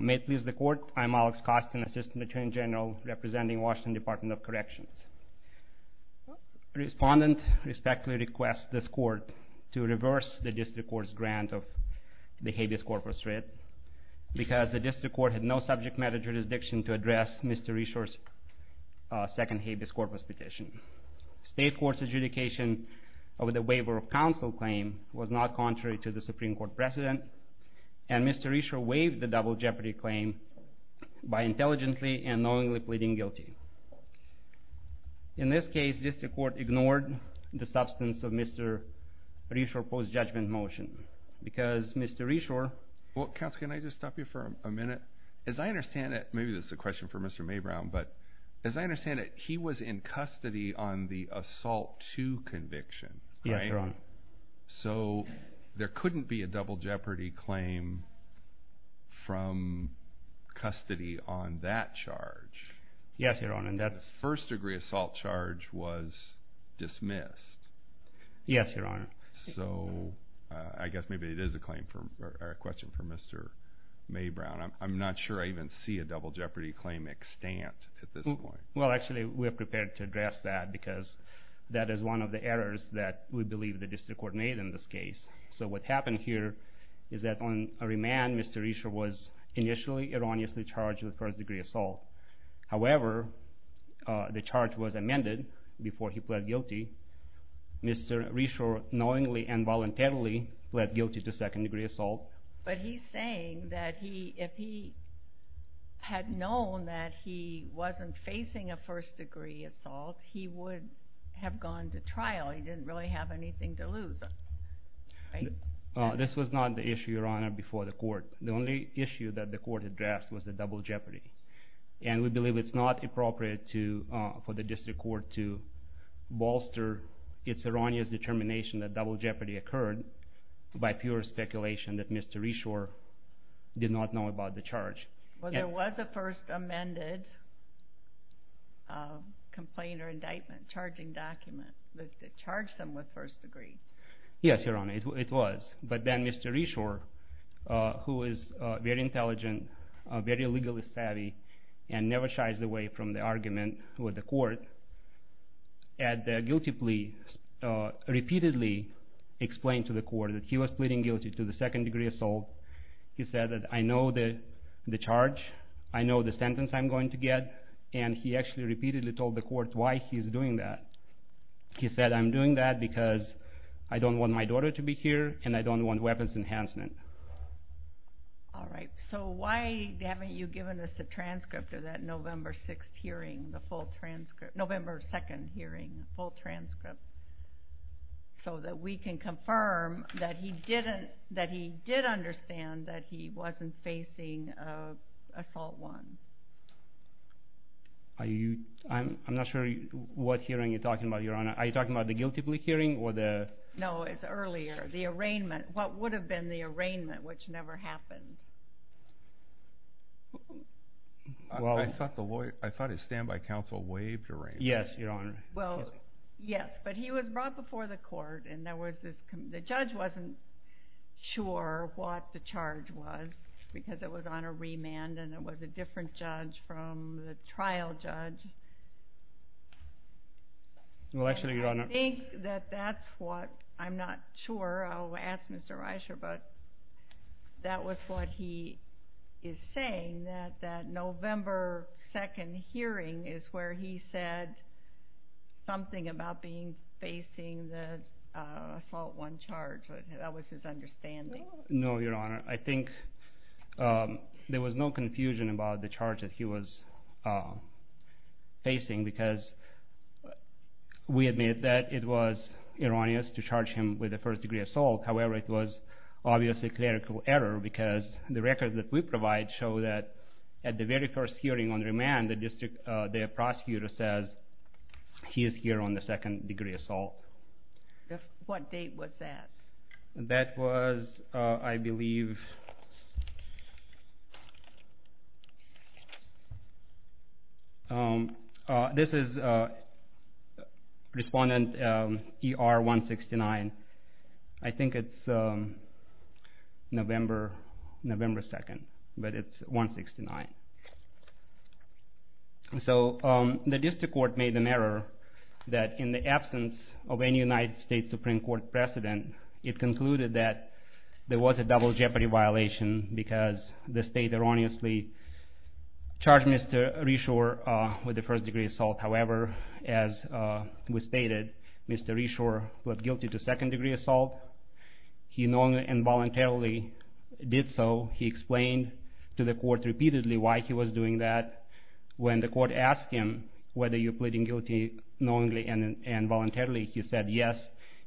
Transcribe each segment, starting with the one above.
May it please the court, I'm Alex Costin, Assistant Attorney General representing Washington Department of Corrections. Respondent respectfully requests this court to reverse the district court's grant of the habeas corpus writ because the district court had no subject matter jurisdiction to address Mr. Rishor's second habeas corpus petition. State court's adjudication of the waiver of counsel claim was not contrary to the Supreme Court's ruling that Mr. Rishor waived the double jeopardy claim by intelligently and knowingly pleading guilty. In this case, district court ignored the substance of Mr. Rishor's post-judgment motion because Mr. Rishor... Well, counsel, can I just stop you for a minute? As I understand it, maybe this is a question for Mr. Maybrown, but as I understand it, he was in custody on the assault two conviction, right? Yes, Your Honor. So, there couldn't be a double jeopardy claim from custody on that charge. Yes, Your Honor, that's... First degree assault charge was dismissed. Yes, Your Honor. So, I guess maybe it is a question for Mr. Maybrown. I'm not sure I even see a double jeopardy claim extant at this point. Well, actually, we're prepared to address that because that is one of the errors that we believe the district court made in this case. So, what happened here is that on remand, Mr. Rishor was initially erroneously charged with first degree assault. However, the charge was amended before he pled guilty. Mr. Rishor knowingly and voluntarily pled guilty to second degree assault. But he's saying that if he had known that he wasn't facing a first degree assault, he would have gone to trial. He didn't really have anything to lose, right? This was not the issue, Your Honor, before the court. The only issue that the court addressed was the double jeopardy. And we believe it's not appropriate for the district court to bolster its erroneous determination that double jeopardy occurred by pure speculation that Mr. Rishor did not know about the charge. Well, there was a first amended complaint or indictment charging document that charged him with first degree. Yes, Your Honor, it was. But then Mr. Rishor, who is very intelligent, very legally savvy, and never shies away from the argument with the court, at the guilty plea, repeatedly explained to the court that he was pleading guilty to the second degree assault. He said that, I know the charge, I know the sentence I'm going to get, and he actually repeatedly told the court why he's doing that. He said, I'm doing that because I don't want my daughter to be here, and I don't want weapons enhancement. All right. So why haven't you given us a transcript of that November 6th hearing, the full transcript, November 2nd hearing, the full transcript, so that we can confirm that he did understand that he wasn't facing Assault 1? I'm not sure what hearing you're talking about, Your Honor. Are you talking about the guilty plea hearing or the... No, it's earlier, the arraignment. What would have been the arraignment, which never happened? I thought his standby counsel waived arraignment. Yes, Your Honor. Well, yes, but he was brought before the court and there was this... The judge wasn't sure what the charge was, because it was on a remand and it was a different judge from the trial judge. Well, actually, Your Honor... I think that that's what... I'm not sure. I'll ask Mr. Reischer, but that was what he is saying, that that November 2nd hearing is where he said something about being facing the Assault 1 charge. That was his understanding. No, Your Honor. I think there was no confusion about the charge that he was facing, because we admit that it was erroneous to charge him with a first degree assault. However, it was obviously a clerical error, because the records that we provide show that at the very first hearing on remand, the prosecutor says he is here on the second degree assault. What date was that? That was, I believe... This is Respondent ER-169. I think it's November 2nd, but it's 169. So, the district court made an error that in the absence of any United States Supreme Court precedent, it concluded that there was a double jeopardy violation, because the state erroneously charged Mr. Reischer with a first degree assault. However, as was stated, Mr. Reischer was guilty to second degree assault. He knowingly and voluntarily did so. He explained to the court repeatedly why he was doing that. When the court asked him whether he was pleading guilty knowingly and voluntarily, he said yes.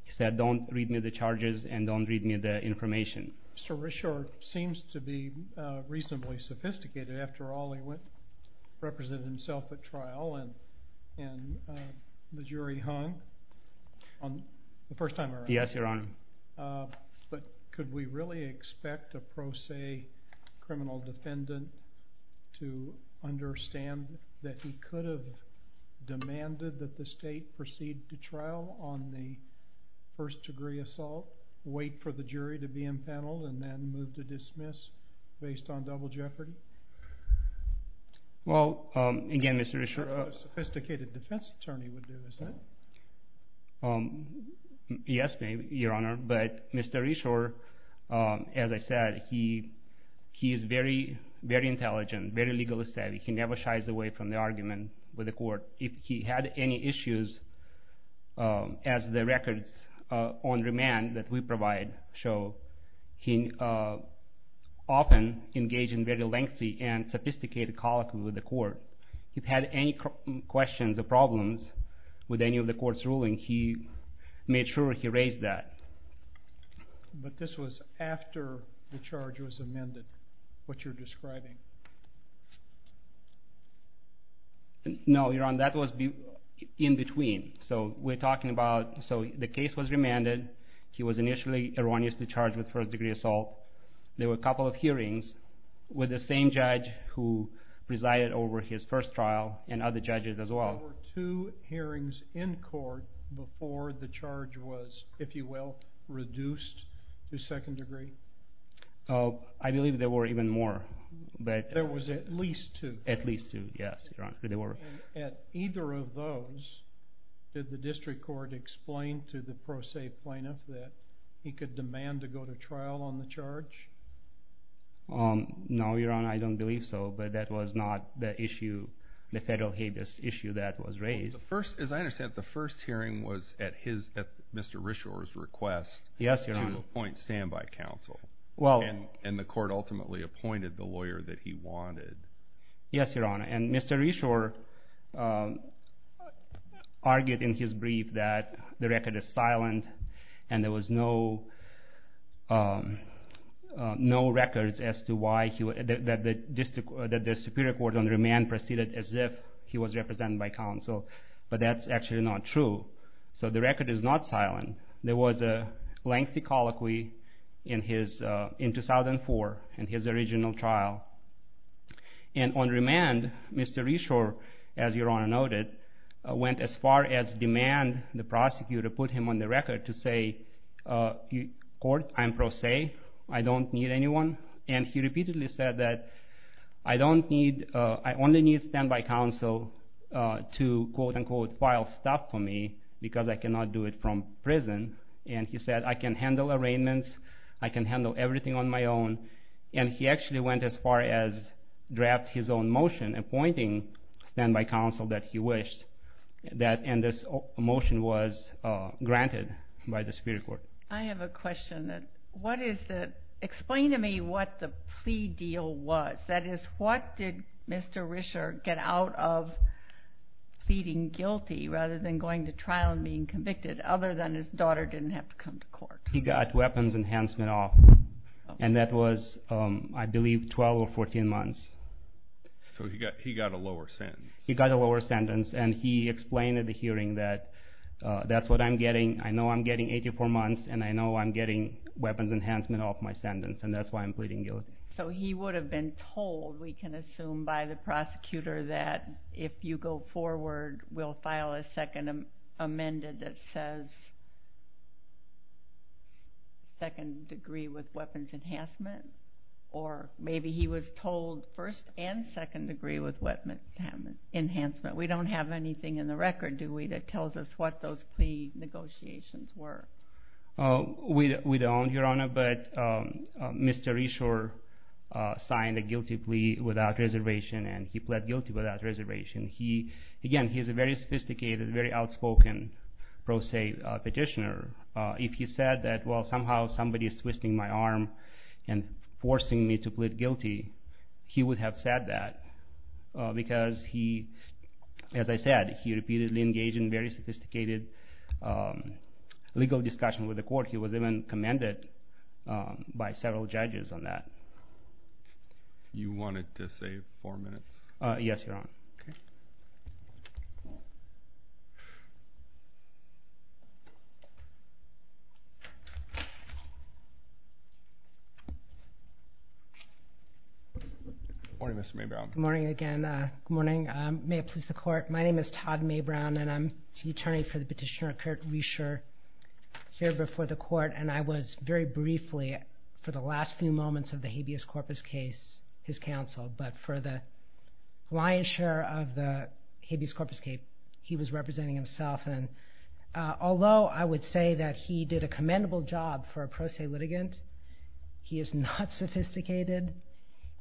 He said, don't read me the charges and don't read me the information. Mr. Reischer seems to be reasonably sophisticated. After all, he represented himself at trial and the jury hung on the first time around. Yes, Your Honor. But could we really expect a pro se criminal defendant to understand that he could have demanded that the state proceed to trial on the first degree assault, wait for the jury to be impaneled, and then move to dismiss based on double jeopardy? Well, again, Mr. Reischer... That's what a sophisticated defense attorney would do, isn't it? Yes, Your Honor. But Mr. Reischer, as I said, he is very intelligent, very legally savvy. If he had any issues, as the records on remand that we provide show, he often engaged in very lengthy and sophisticated colloquy with the court. If he had any questions or problems with any of the court's rulings, he made sure he raised that. But this was after the charge was amended, what you're describing. No, Your Honor. That was in between. So the case was remanded. He was initially erroneously charged with first degree assault. There were a couple of hearings with the same judge who presided over his first trial and other judges as well. Were there two hearings in court before the charge was, if you will, reduced to second degree? I believe there were even more. There was at least two. At either of those, did the district court explain to the pro se plaintiff that he could demand to go to trial on the charge? No, Your Honor, I don't believe so. But that was not the issue, the federal habeas issue that was raised. As I understand it, the first hearing was at Mr. Reshore's request to appoint standby counsel. And the court ultimately appointed the lawyer that he wanted. Yes, Your Honor. And Mr. Reshore argued in his brief that the record is silent and there was no records as to why the Superior Court on Remand proceeded as if he was represented by counsel. But that's actually not true. So the record is not silent. There was a lengthy colloquy in 2004 in his original trial. And on remand, Mr. Reshore, as Your Honor noted, went as far as demand the prosecutor put him on the record to say, Court, I'm pro se. I don't need anyone. And he repeatedly said that I only need standby counsel to, quote, unquote, file stuff for me because I cannot do it from prison. And he said, I can handle arraignments. I can handle everything on my own. And he actually went as far as draft his own motion appointing standby counsel that he wished. And this motion was granted by the Superior Court. I have a question. Explain to me what the plea deal was. That is, what did Mr. Reshore get out of pleading guilty rather than going to trial and being convicted other than his daughter didn't have to come to court? He got weapons enhancement off. And that was, I believe, 12 or 14 months. So he got a lower sentence. He got a lower sentence. And he explained at the hearing that that's what I'm getting. I'm getting 84 months. And I know I'm getting weapons enhancement off my sentence. And that's why I'm pleading guilty. So he would have been told, we can assume by the prosecutor, that if you go forward, we'll file a second amendment that says second degree with weapons enhancement. Or maybe he was told first and second degree with weapons enhancement. We don't have anything in the record, do we, that tells us what those plea negotiations were? We don't, Your Honor. But Mr. Reshore signed a guilty plea without reservation. And he pled guilty without reservation. Again, he's a very sophisticated, very outspoken pro se petitioner. If he said that, well, somehow somebody is twisting my arm and forcing me to plead guilty, he would have said that. Because he, as I said, he repeatedly engaged in very sophisticated legal discussion with the court. He was even commended by several judges on that. You wanted to save four minutes? Yes, Your Honor. Good morning, Mr. Mabrow. Good morning again. Good morning. May it please the court. My name is Todd Mabrow, and I'm the attorney for the petitioner, Kurt Reshore, here before the court. And I was, very briefly, for the last few moments of the habeas corpus case, his counsel. But for the lion's share of the habeas corpus case, he was representing himself. And although I would say that he did a commendable job for a pro se litigant, he is not sophisticated.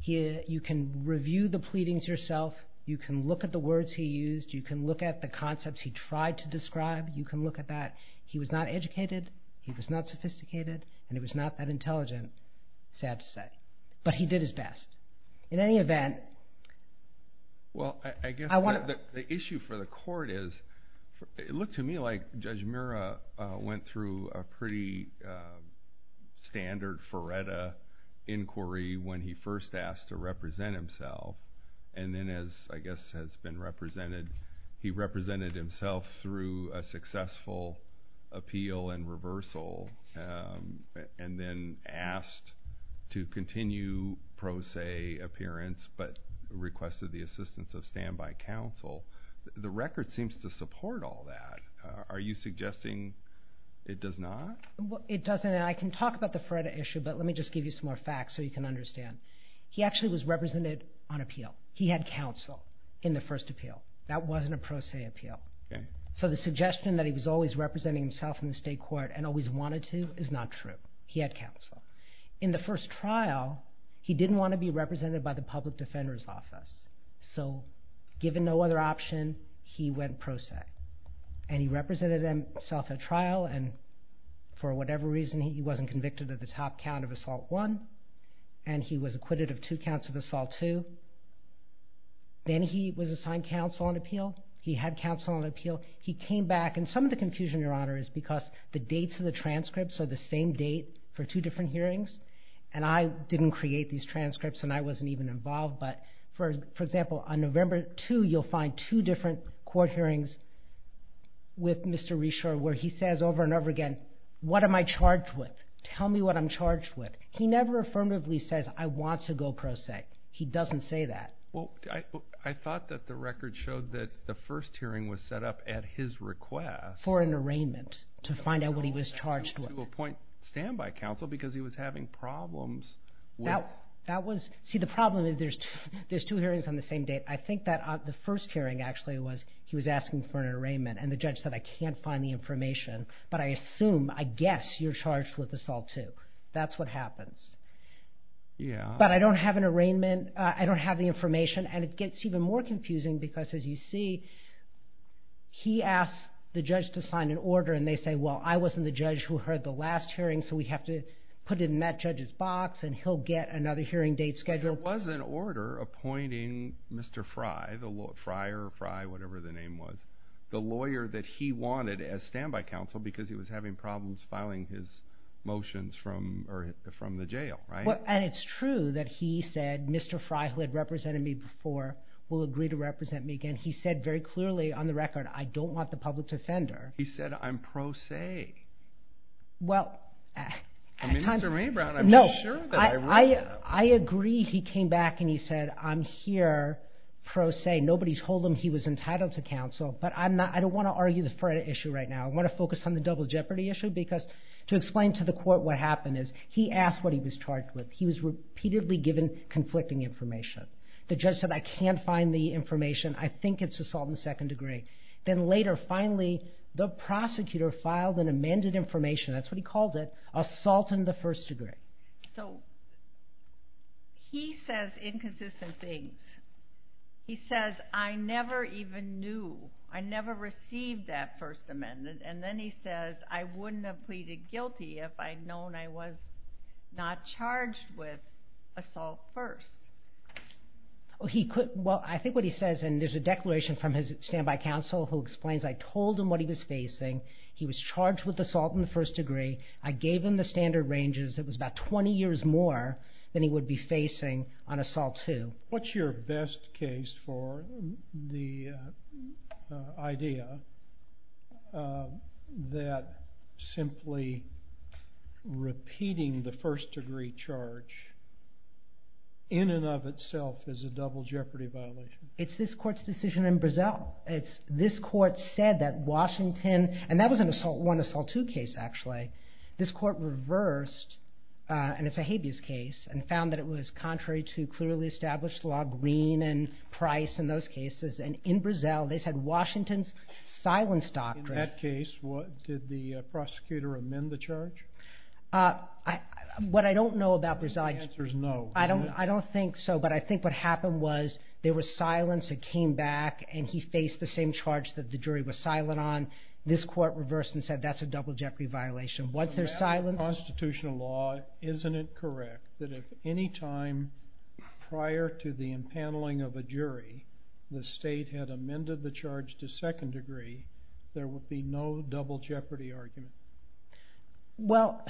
You can review the pleadings yourself. You can look at the words he used. You can look at the concepts he tried to describe. You can look at that. He was not educated. He was not sophisticated. And he was not that intelligent, sad to say. But he did his best. In any event, I want to- Well, I guess the issue for the court is, it looked to me like Judge Murrah went through a pretty standard, verita inquiry when he first asked to represent himself. And then as, I guess, has been represented, he represented himself through a successful appeal and reversal, and then asked to continue pro se appearance, but requested the assistance of standby counsel. The record seems to support all that. Are you suggesting it does not? It doesn't. I can talk about the FREDA issue, but let me just give you some more facts so you can understand. He actually was represented on appeal. He had counsel in the first appeal. That wasn't a pro se appeal. So the suggestion that he was always representing himself in the state court and always wanted to is not true. He had counsel. In the first trial, he didn't want to be represented by the public defender's office. So given no other option, he went pro se. And he represented himself at trial. And for whatever reason, he wasn't convicted of the top count of assault one. And he was acquitted of two counts of assault two. Then he was assigned counsel on appeal. He had counsel on appeal. He came back. And some of the confusion, Your Honor, is because the dates of the transcripts are the same date for two different hearings. And I didn't create these transcripts, and I wasn't even involved. But, for example, on November 2, you'll find two different court hearings with Mr. Reshor where he says over and over again, what am I charged with? Tell me what I'm charged with. He never affirmatively says, I want to go pro se. He doesn't say that. Well, I thought that the record showed that the first hearing was set up at his request. For an arraignment to find out what he was charged with. To appoint standby counsel because he was having problems with. See, the problem is there's two hearings on the same date. I think that the first hearing actually was he was asking for an arraignment. And the judge said, I can't find the information. But I assume, I guess, you're charged with assault two. That's what happens. But I don't have an arraignment. I don't have the information. And it gets even more confusing because, as you see, he asks the judge to sign an order. And they say, well, I wasn't the judge who heard the last hearing. So we have to put it in that judge's box. And he'll get another hearing date scheduled. There was an order appointing Mr. Frye. Frye or Frye, whatever the name was. The lawyer that he wanted as standby counsel. Because he was having problems filing his motions from the jail. Right? And it's true that he said, Mr. Frye, who had represented me before, will agree to represent me again. He said very clearly on the record, I don't want the public to offend her. He said, I'm pro se. Well, I agree he came back and he said, I'm here pro se. Nobody told him he was entitled to counsel. But I don't want to argue the Frye issue right now. I want to focus on the double jeopardy issue. Because to explain to the court what happened is, he asked what he was charged with. He was repeatedly given conflicting information. The judge said, I can't find the information. I think it's assault in the second degree. Then later, finally, the prosecutor filed an amended information. That's what he called it. Assault in the first degree. So, he says inconsistent things. He says, I never even knew. I never received that first amendment. And then he says, I wouldn't have pleaded guilty if I'd known I was not charged with assault first. Well, I think what he says, and there's a declaration from his standby counsel who explains, I told him what he was facing. He was charged with assault in the first degree. I gave him the standard ranges. It was about 20 years more than he would be facing on assault two. What's your best case for the idea that simply repeating the first degree charge in and of itself is a double jeopardy violation? It's this court's decision in Brazil. This court said that Washington, and that was an assault one, assault two case actually. This court reversed, and it's a habeas case, and found that it was contrary to clearly established law. Green and Price in those cases. And in Brazil, they said Washington's silence doctrine. In that case, did the prosecutor amend the charge? What I don't know about Brazil. The answer is no. I don't think so, but I think what happened was there was silence. It came back, and he faced the same charge that the jury was silent on. This court reversed and said that's a double jeopardy violation. What's their silence? Under constitutional law, isn't it correct that if any time prior to the impaneling of a jury, the state had amended the charge to second degree, there would be no double jeopardy argument? Well,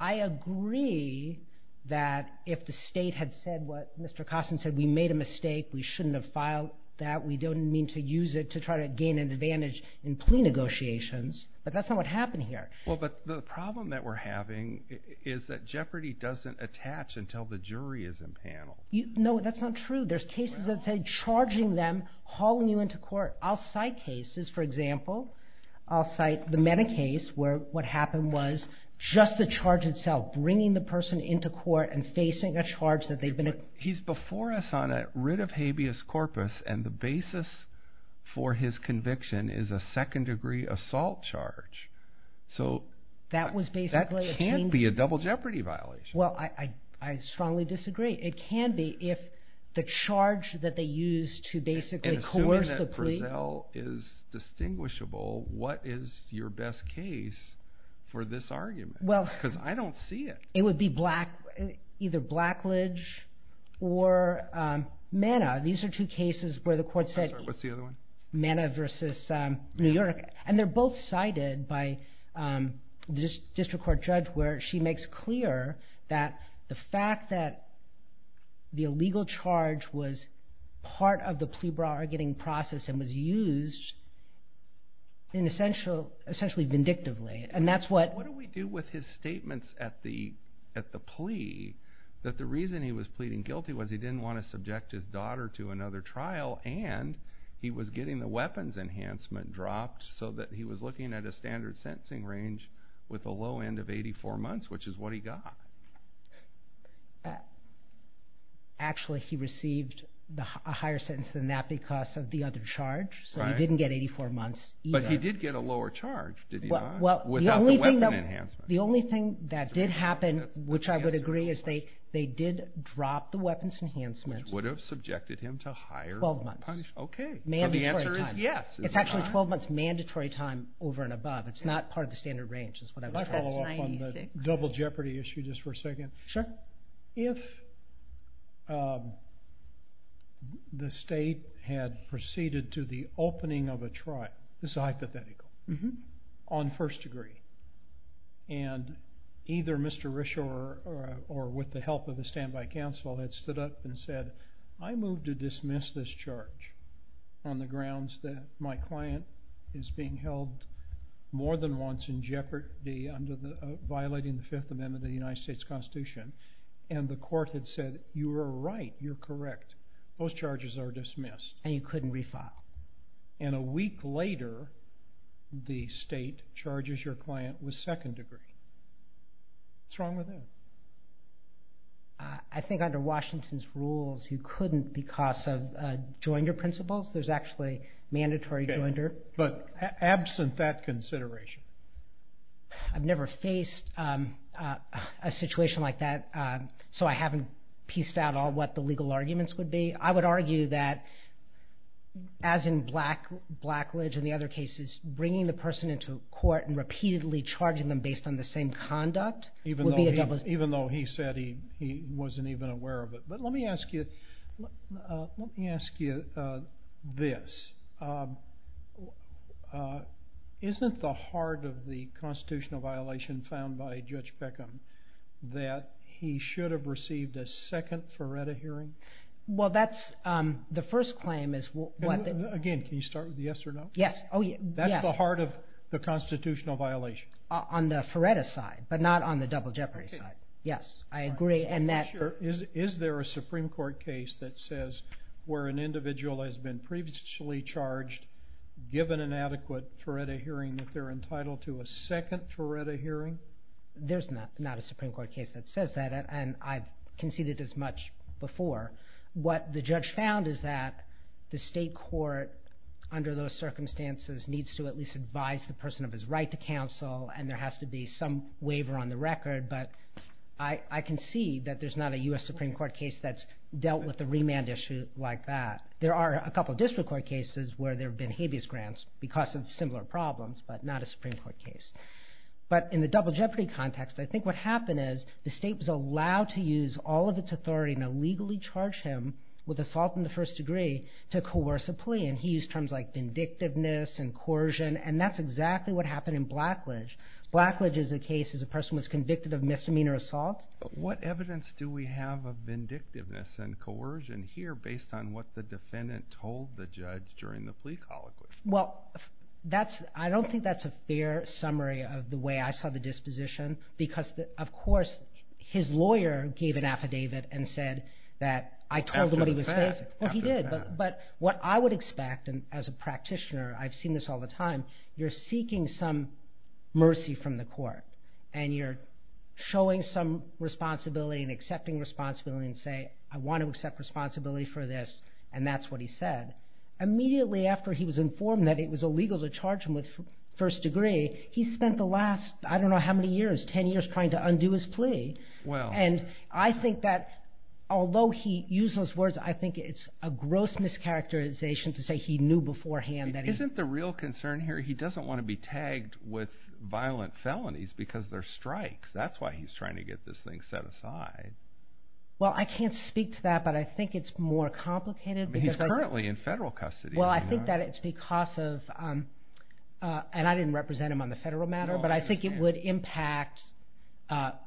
I agree that if the state had said what Mr. Costin said, we made a mistake. We shouldn't have filed that. We don't mean to use it to try to gain an advantage in plea negotiations. But that's not what happened here. Well, but the problem that we're having is that jeopardy doesn't attach until the jury is impaneled. No, that's not true. There's cases that say charging them, hauling you into court. I'll cite cases, for example. I'll cite the Meta case where what happened was just the charge itself, bringing the person into court and facing a charge that they've been... He's before us on a writ of habeas corpus and the basis for his conviction is a second degree assault charge. So that can be a double jeopardy violation. Well, I strongly disagree. It can be if the charge that they used to basically coerce the plea... Assuming that Brazell is distinguishable, what is your best case for this argument? Because I don't see it. It would be either Blackledge or Manna. These are two cases where the court said... What's the other one? Manna versus New York. And they're both cited by the district court judge where she makes clear that the fact that the illegal charge was part of the plea bargaining process and was used essentially vindictively. And that's what... At the plea, that the reason he was pleading guilty was he didn't want to subject his daughter to another trial and he was getting the weapons enhancement dropped so that he was looking at a standard sentencing range with a low end of 84 months, which is what he got. Actually, he received a higher sentence than that because of the other charge. So he didn't get 84 months. But he did get a lower charge, did he not? Without the weapon enhancement. The only thing that did happen, which I would agree, is they did drop the weapons enhancement. Which would have subjected him to higher punishment. 12 months. Mandatory time. So the answer is yes. It's actually 12 months mandatory time over and above. It's not part of the standard range is what I was trying to say. Can I follow up on the double jeopardy issue just for a second? Sure. If the state had proceeded to the opening of a trial, this is hypothetical, on first degree, and either Mr. Rischel or with the help of the standby counsel had stood up and said, I move to dismiss this charge on the grounds that my client is being held more than once in jeopardy under violating the Fifth Amendment of the United States Constitution. And the court had said, you are right, you are correct. Those charges are dismissed. And you couldn't refile. And a week later, the state charges your client with second degree. What's wrong with that? I think under Washington's rules, you couldn't because of joinder principles. There's actually mandatory joinder. But absent that consideration. I've never faced a situation like that. So I haven't pieced out all what the legal arguments would be. I would argue that, as in Blackledge and the other cases, bringing the person into court and repeatedly charging them based on the same conduct would be a double jeopardy. Even though he said he wasn't even aware of it. But let me ask you this. Isn't the heart of the constitutional violation found by Judge Beckham that he should have received a second Feretta hearing? Well, that's the first claim. Again, can you start with the yes or no? That's the heart of the constitutional violation. On the Feretta side, but not on the double jeopardy side. Yes, I agree. Is there a Supreme Court case that says where an individual has been previously charged given an adequate Feretta hearing that they're entitled to a second Feretta hearing? There's not a Supreme Court case that says that. And I've conceded as much before. What the judge found is that the state court, under those circumstances, needs to at least advise the person of his right to counsel. And there has to be some waiver on the record. But I can see that there's not a U.S. Supreme Court case that's dealt with a remand issue like that. There are a couple of district court cases where there have been habeas grants because of similar problems, but not a Supreme Court case. But in the double jeopardy context, I think what happened is the state was allowed to use all of its authority and illegally charge him with assault in the first degree to coerce a plea. And he used terms like vindictiveness and coercion. And that's exactly what happened in Blackledge. Blackledge is a case where a person was convicted of misdemeanor assault. What evidence do we have of vindictiveness and coercion here based on what the defendant told the judge during the plea colloquy? Well, I don't think that's a fair summary of the way I saw the disposition. Because, of course, his lawyer gave an affidavit and said that I told him what he was facing. After the fact. Well, he did. But what I would expect as a practitioner, I've seen this all the time, you're seeking some mercy from the court. And you're showing some responsibility and accepting responsibility and say, I want to accept responsibility for this. And that's what he said. Immediately after he was informed that it was illegal to charge him with first degree, he spent the last, I don't know how many years, 10 years trying to undo his plea. And I think that, although he used those words, I think it's a gross mischaracterization to say he knew beforehand. Isn't the real concern here, he doesn't want to be tagged with violent felonies because they're strikes. That's why he's trying to get this thing set aside. Well, I can't speak to that, but I think it's more complicated. He's currently in federal custody. Well, I think that it's because of, and I didn't represent him on the federal matter, but I think it would impact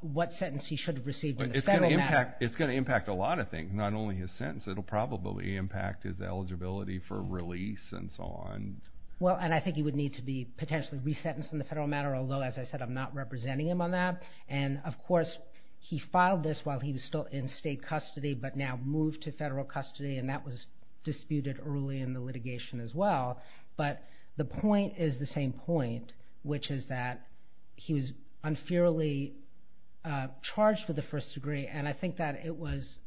what sentence he should have received in the federal matter. It's going to impact a lot of things. Not only his sentence, it'll probably impact his eligibility for release and so on. Well, and I think he would need to be potentially re-sentenced in the federal matter, although, as I said, I'm not representing him on that. And, of course, he filed this while he was still in state custody, but now moved to federal custody. And that was disputed early in the litigation as well. But the point is the same point, which is that he was unfairly charged with the first degree. And I think that it was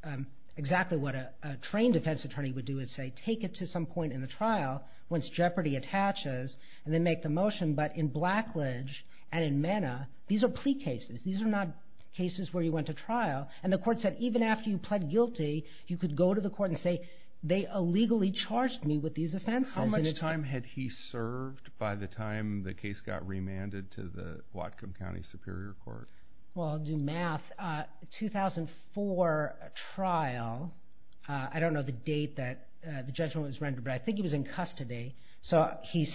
exactly what a trained defense attorney would do, is say, take it to some point in the trial, once jeopardy attaches, and then make the motion. But in Blackledge and in Manna, these are plea cases. These are not cases where you went to trial. And the court said, even after you pled guilty, you could go to the court and say, they illegally charged me with these offenses. How much time had he served by the time the case got remanded to the Whatcom County Superior Court? Well, I'll do math. 2004 trial, I don't know the date that the judgment was rendered, but I think he was in custody. So he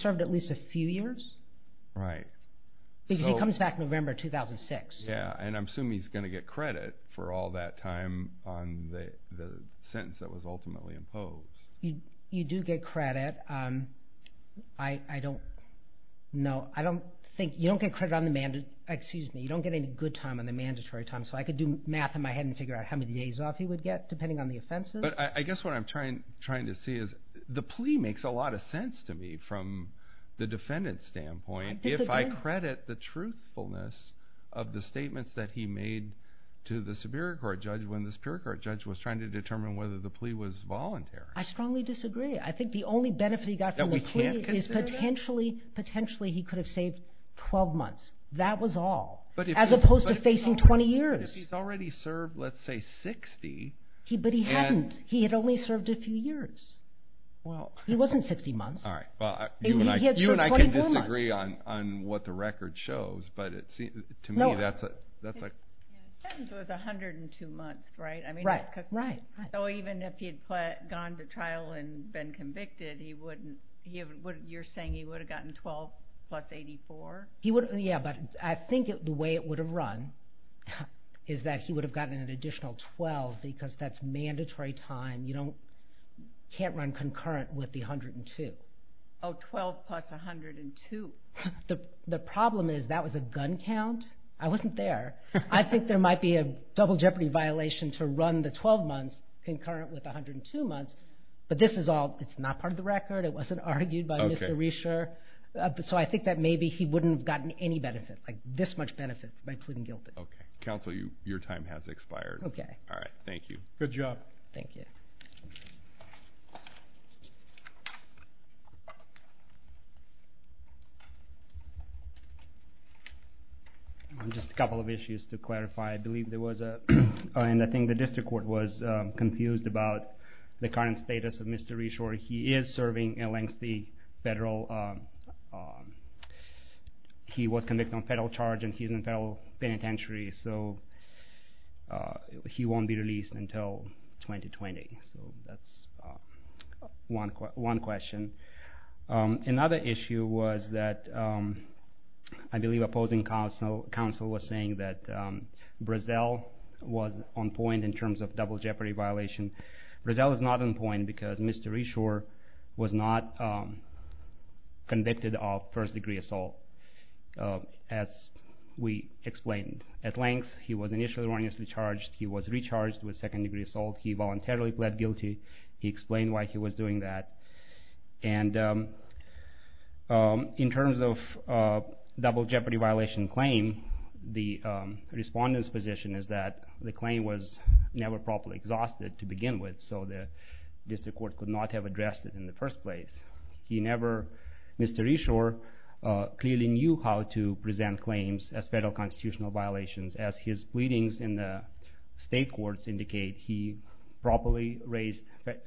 served at least a few years? Right. Because he comes back November 2006. Yeah, and I'm assuming he's going to get credit for all that time on the sentence that was ultimately imposed. You do get credit. I don't... No, I don't think... You don't get credit on the... Excuse me. You don't get any good time on the mandatory time. So I could do math in my head and figure out how many days off he would get, depending on the offenses. But I guess what I'm trying to see is, the plea makes a lot of sense to me, from the defendant's standpoint. I disagree. I don't credit the truthfulness of the statements that he made to the Superior Court judge when the Superior Court judge was trying to determine whether the plea was voluntary. I strongly disagree. I think the only benefit he got from the plea is potentially he could have saved 12 months. That was all. As opposed to facing 20 years. But if he's already served, let's say, 60... But he hadn't. He had only served a few years. He wasn't 60 months. You and I can disagree on what the record shows, but to me, that's a... The sentence was 102 months, right? Right. So even if he had gone to trial and been convicted, you're saying he would have gotten 12 plus 84? Yeah, but I think the way it would have run is that he would have gotten an additional 12 because that's mandatory time. You can't run concurrent with the 102. Oh, 12 plus 102. The problem is that was a gun count. I wasn't there. I think there might be a double jeopardy violation to run the 12 months concurrent with 102 months. But this is all... It's not part of the record. It wasn't argued by Mr. Rescher. So I think that maybe he wouldn't have gotten any benefit, like this much benefit, by pleading guilty. Counsel, your time has expired. Okay. All right. Thank you. Good job. Just a couple of issues to clarify. I believe there was a... I think the district court was confused about the current status of Mr. Rescher. He is serving a lengthy federal... He was convicted on federal charge and he's in federal penitentiary. So he won't be released until 2020. So that's one question. Another issue was that I believe opposing counsel was saying that Brazel was on point in terms of double jeopardy violation. Brazel is not on point because Mr. Rescher was not convicted of first degree assault, as we explained. At length, he was initially charged. He was recharged with second degree assault. He voluntarily pled guilty. He explained why he was doing that. And in terms of double jeopardy violation claim, the respondent's position is that the claim was never properly exhausted to begin with. So the district court could not have addressed it in the first place. He never... Mr. Rescher clearly knew how to present claims as federal constitutional violations. As his pleadings in the state courts indicate, he properly raised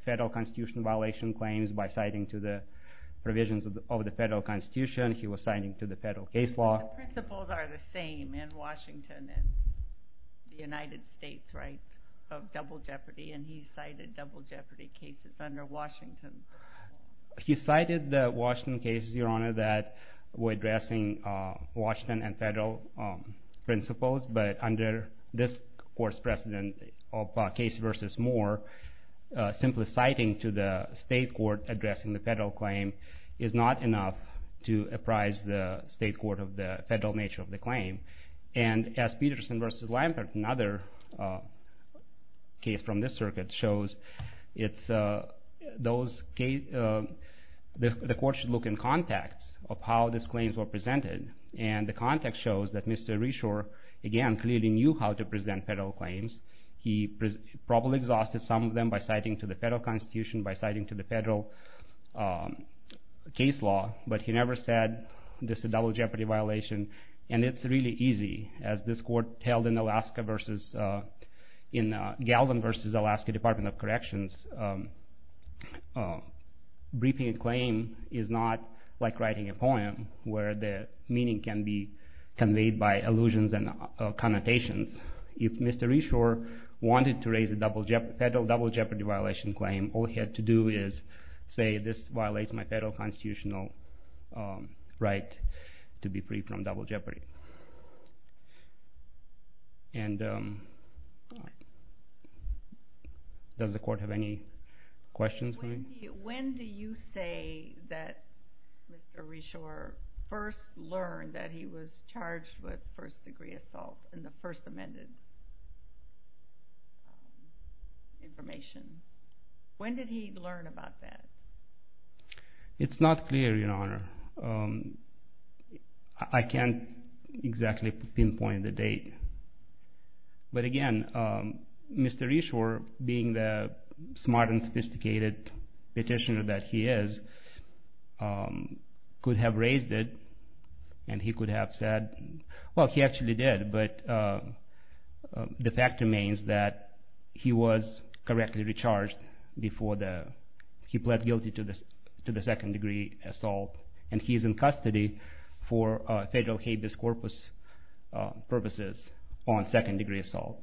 federal constitutional violation claims by citing provisions of the federal constitution. He was citing to the federal case law. But the principles are the same in Washington and the United States, right? Of double jeopardy. And he cited double jeopardy cases under Washington. He cited the Washington cases, Your Honor, that were addressing Washington and under this court's precedent of Casey v. Moore, simply citing to the state court addressing the federal claim is not enough to apprise the state court of the federal nature of the claim. And as Peterson v. Lampert, another case from this circuit shows, it's those... the court should look in context of how these claims were presented. And the context shows that Mr. Reshore, again, clearly knew how to present federal claims. He probably exhausted some of them by citing to the federal constitution, by citing to the federal case law. But he never said this is a double jeopardy violation. And it's really easy. As this court held in Alaska v. in Galvin v. Alaska Department of Corrections, briefing a claim is not like writing a poem, where the is conveyed by allusions and connotations. If Mr. Reshore wanted to raise a federal double jeopardy violation claim, all he had to do is say, this violates my federal constitutional right to be free from double jeopardy. Does the court have any questions for me? When do you say that Mr. Reshore first learned that he was charged with first degree assault in the first amended information? When did he learn about that? It's not clear, Your Honor. I can't exactly pinpoint the date. But again, Mr. Reshore, being the smart and sophisticated petitioner that he is, could have raised it and he could have said, well, he actually did, but the fact remains that he was correctly recharged before he pled guilty to the second degree assault. And he is in custody for federal habeas corpus purposes on second degree assault.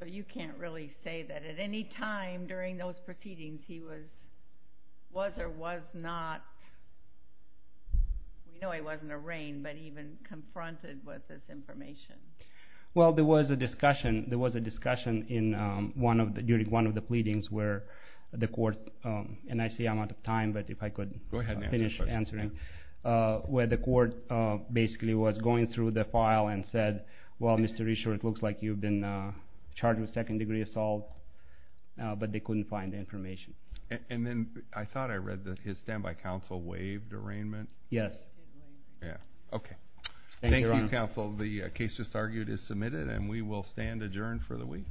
So you can't really say that at any time during those proceedings he was or was not We know he wasn't arraigned, but even confronted with this information. Well, there was a discussion during one of the pleadings where the court and I see I'm out of time, but if I could finish answering. Where the court basically was going through the file and said well, Mr. Reshore, it looks like you've been charged with second degree assault but they couldn't find the information. And then I thought I read that his standby counsel waived arraignment. Yes. Thank you, counsel. The case just argued is submitted and we will stand adjourned for the week.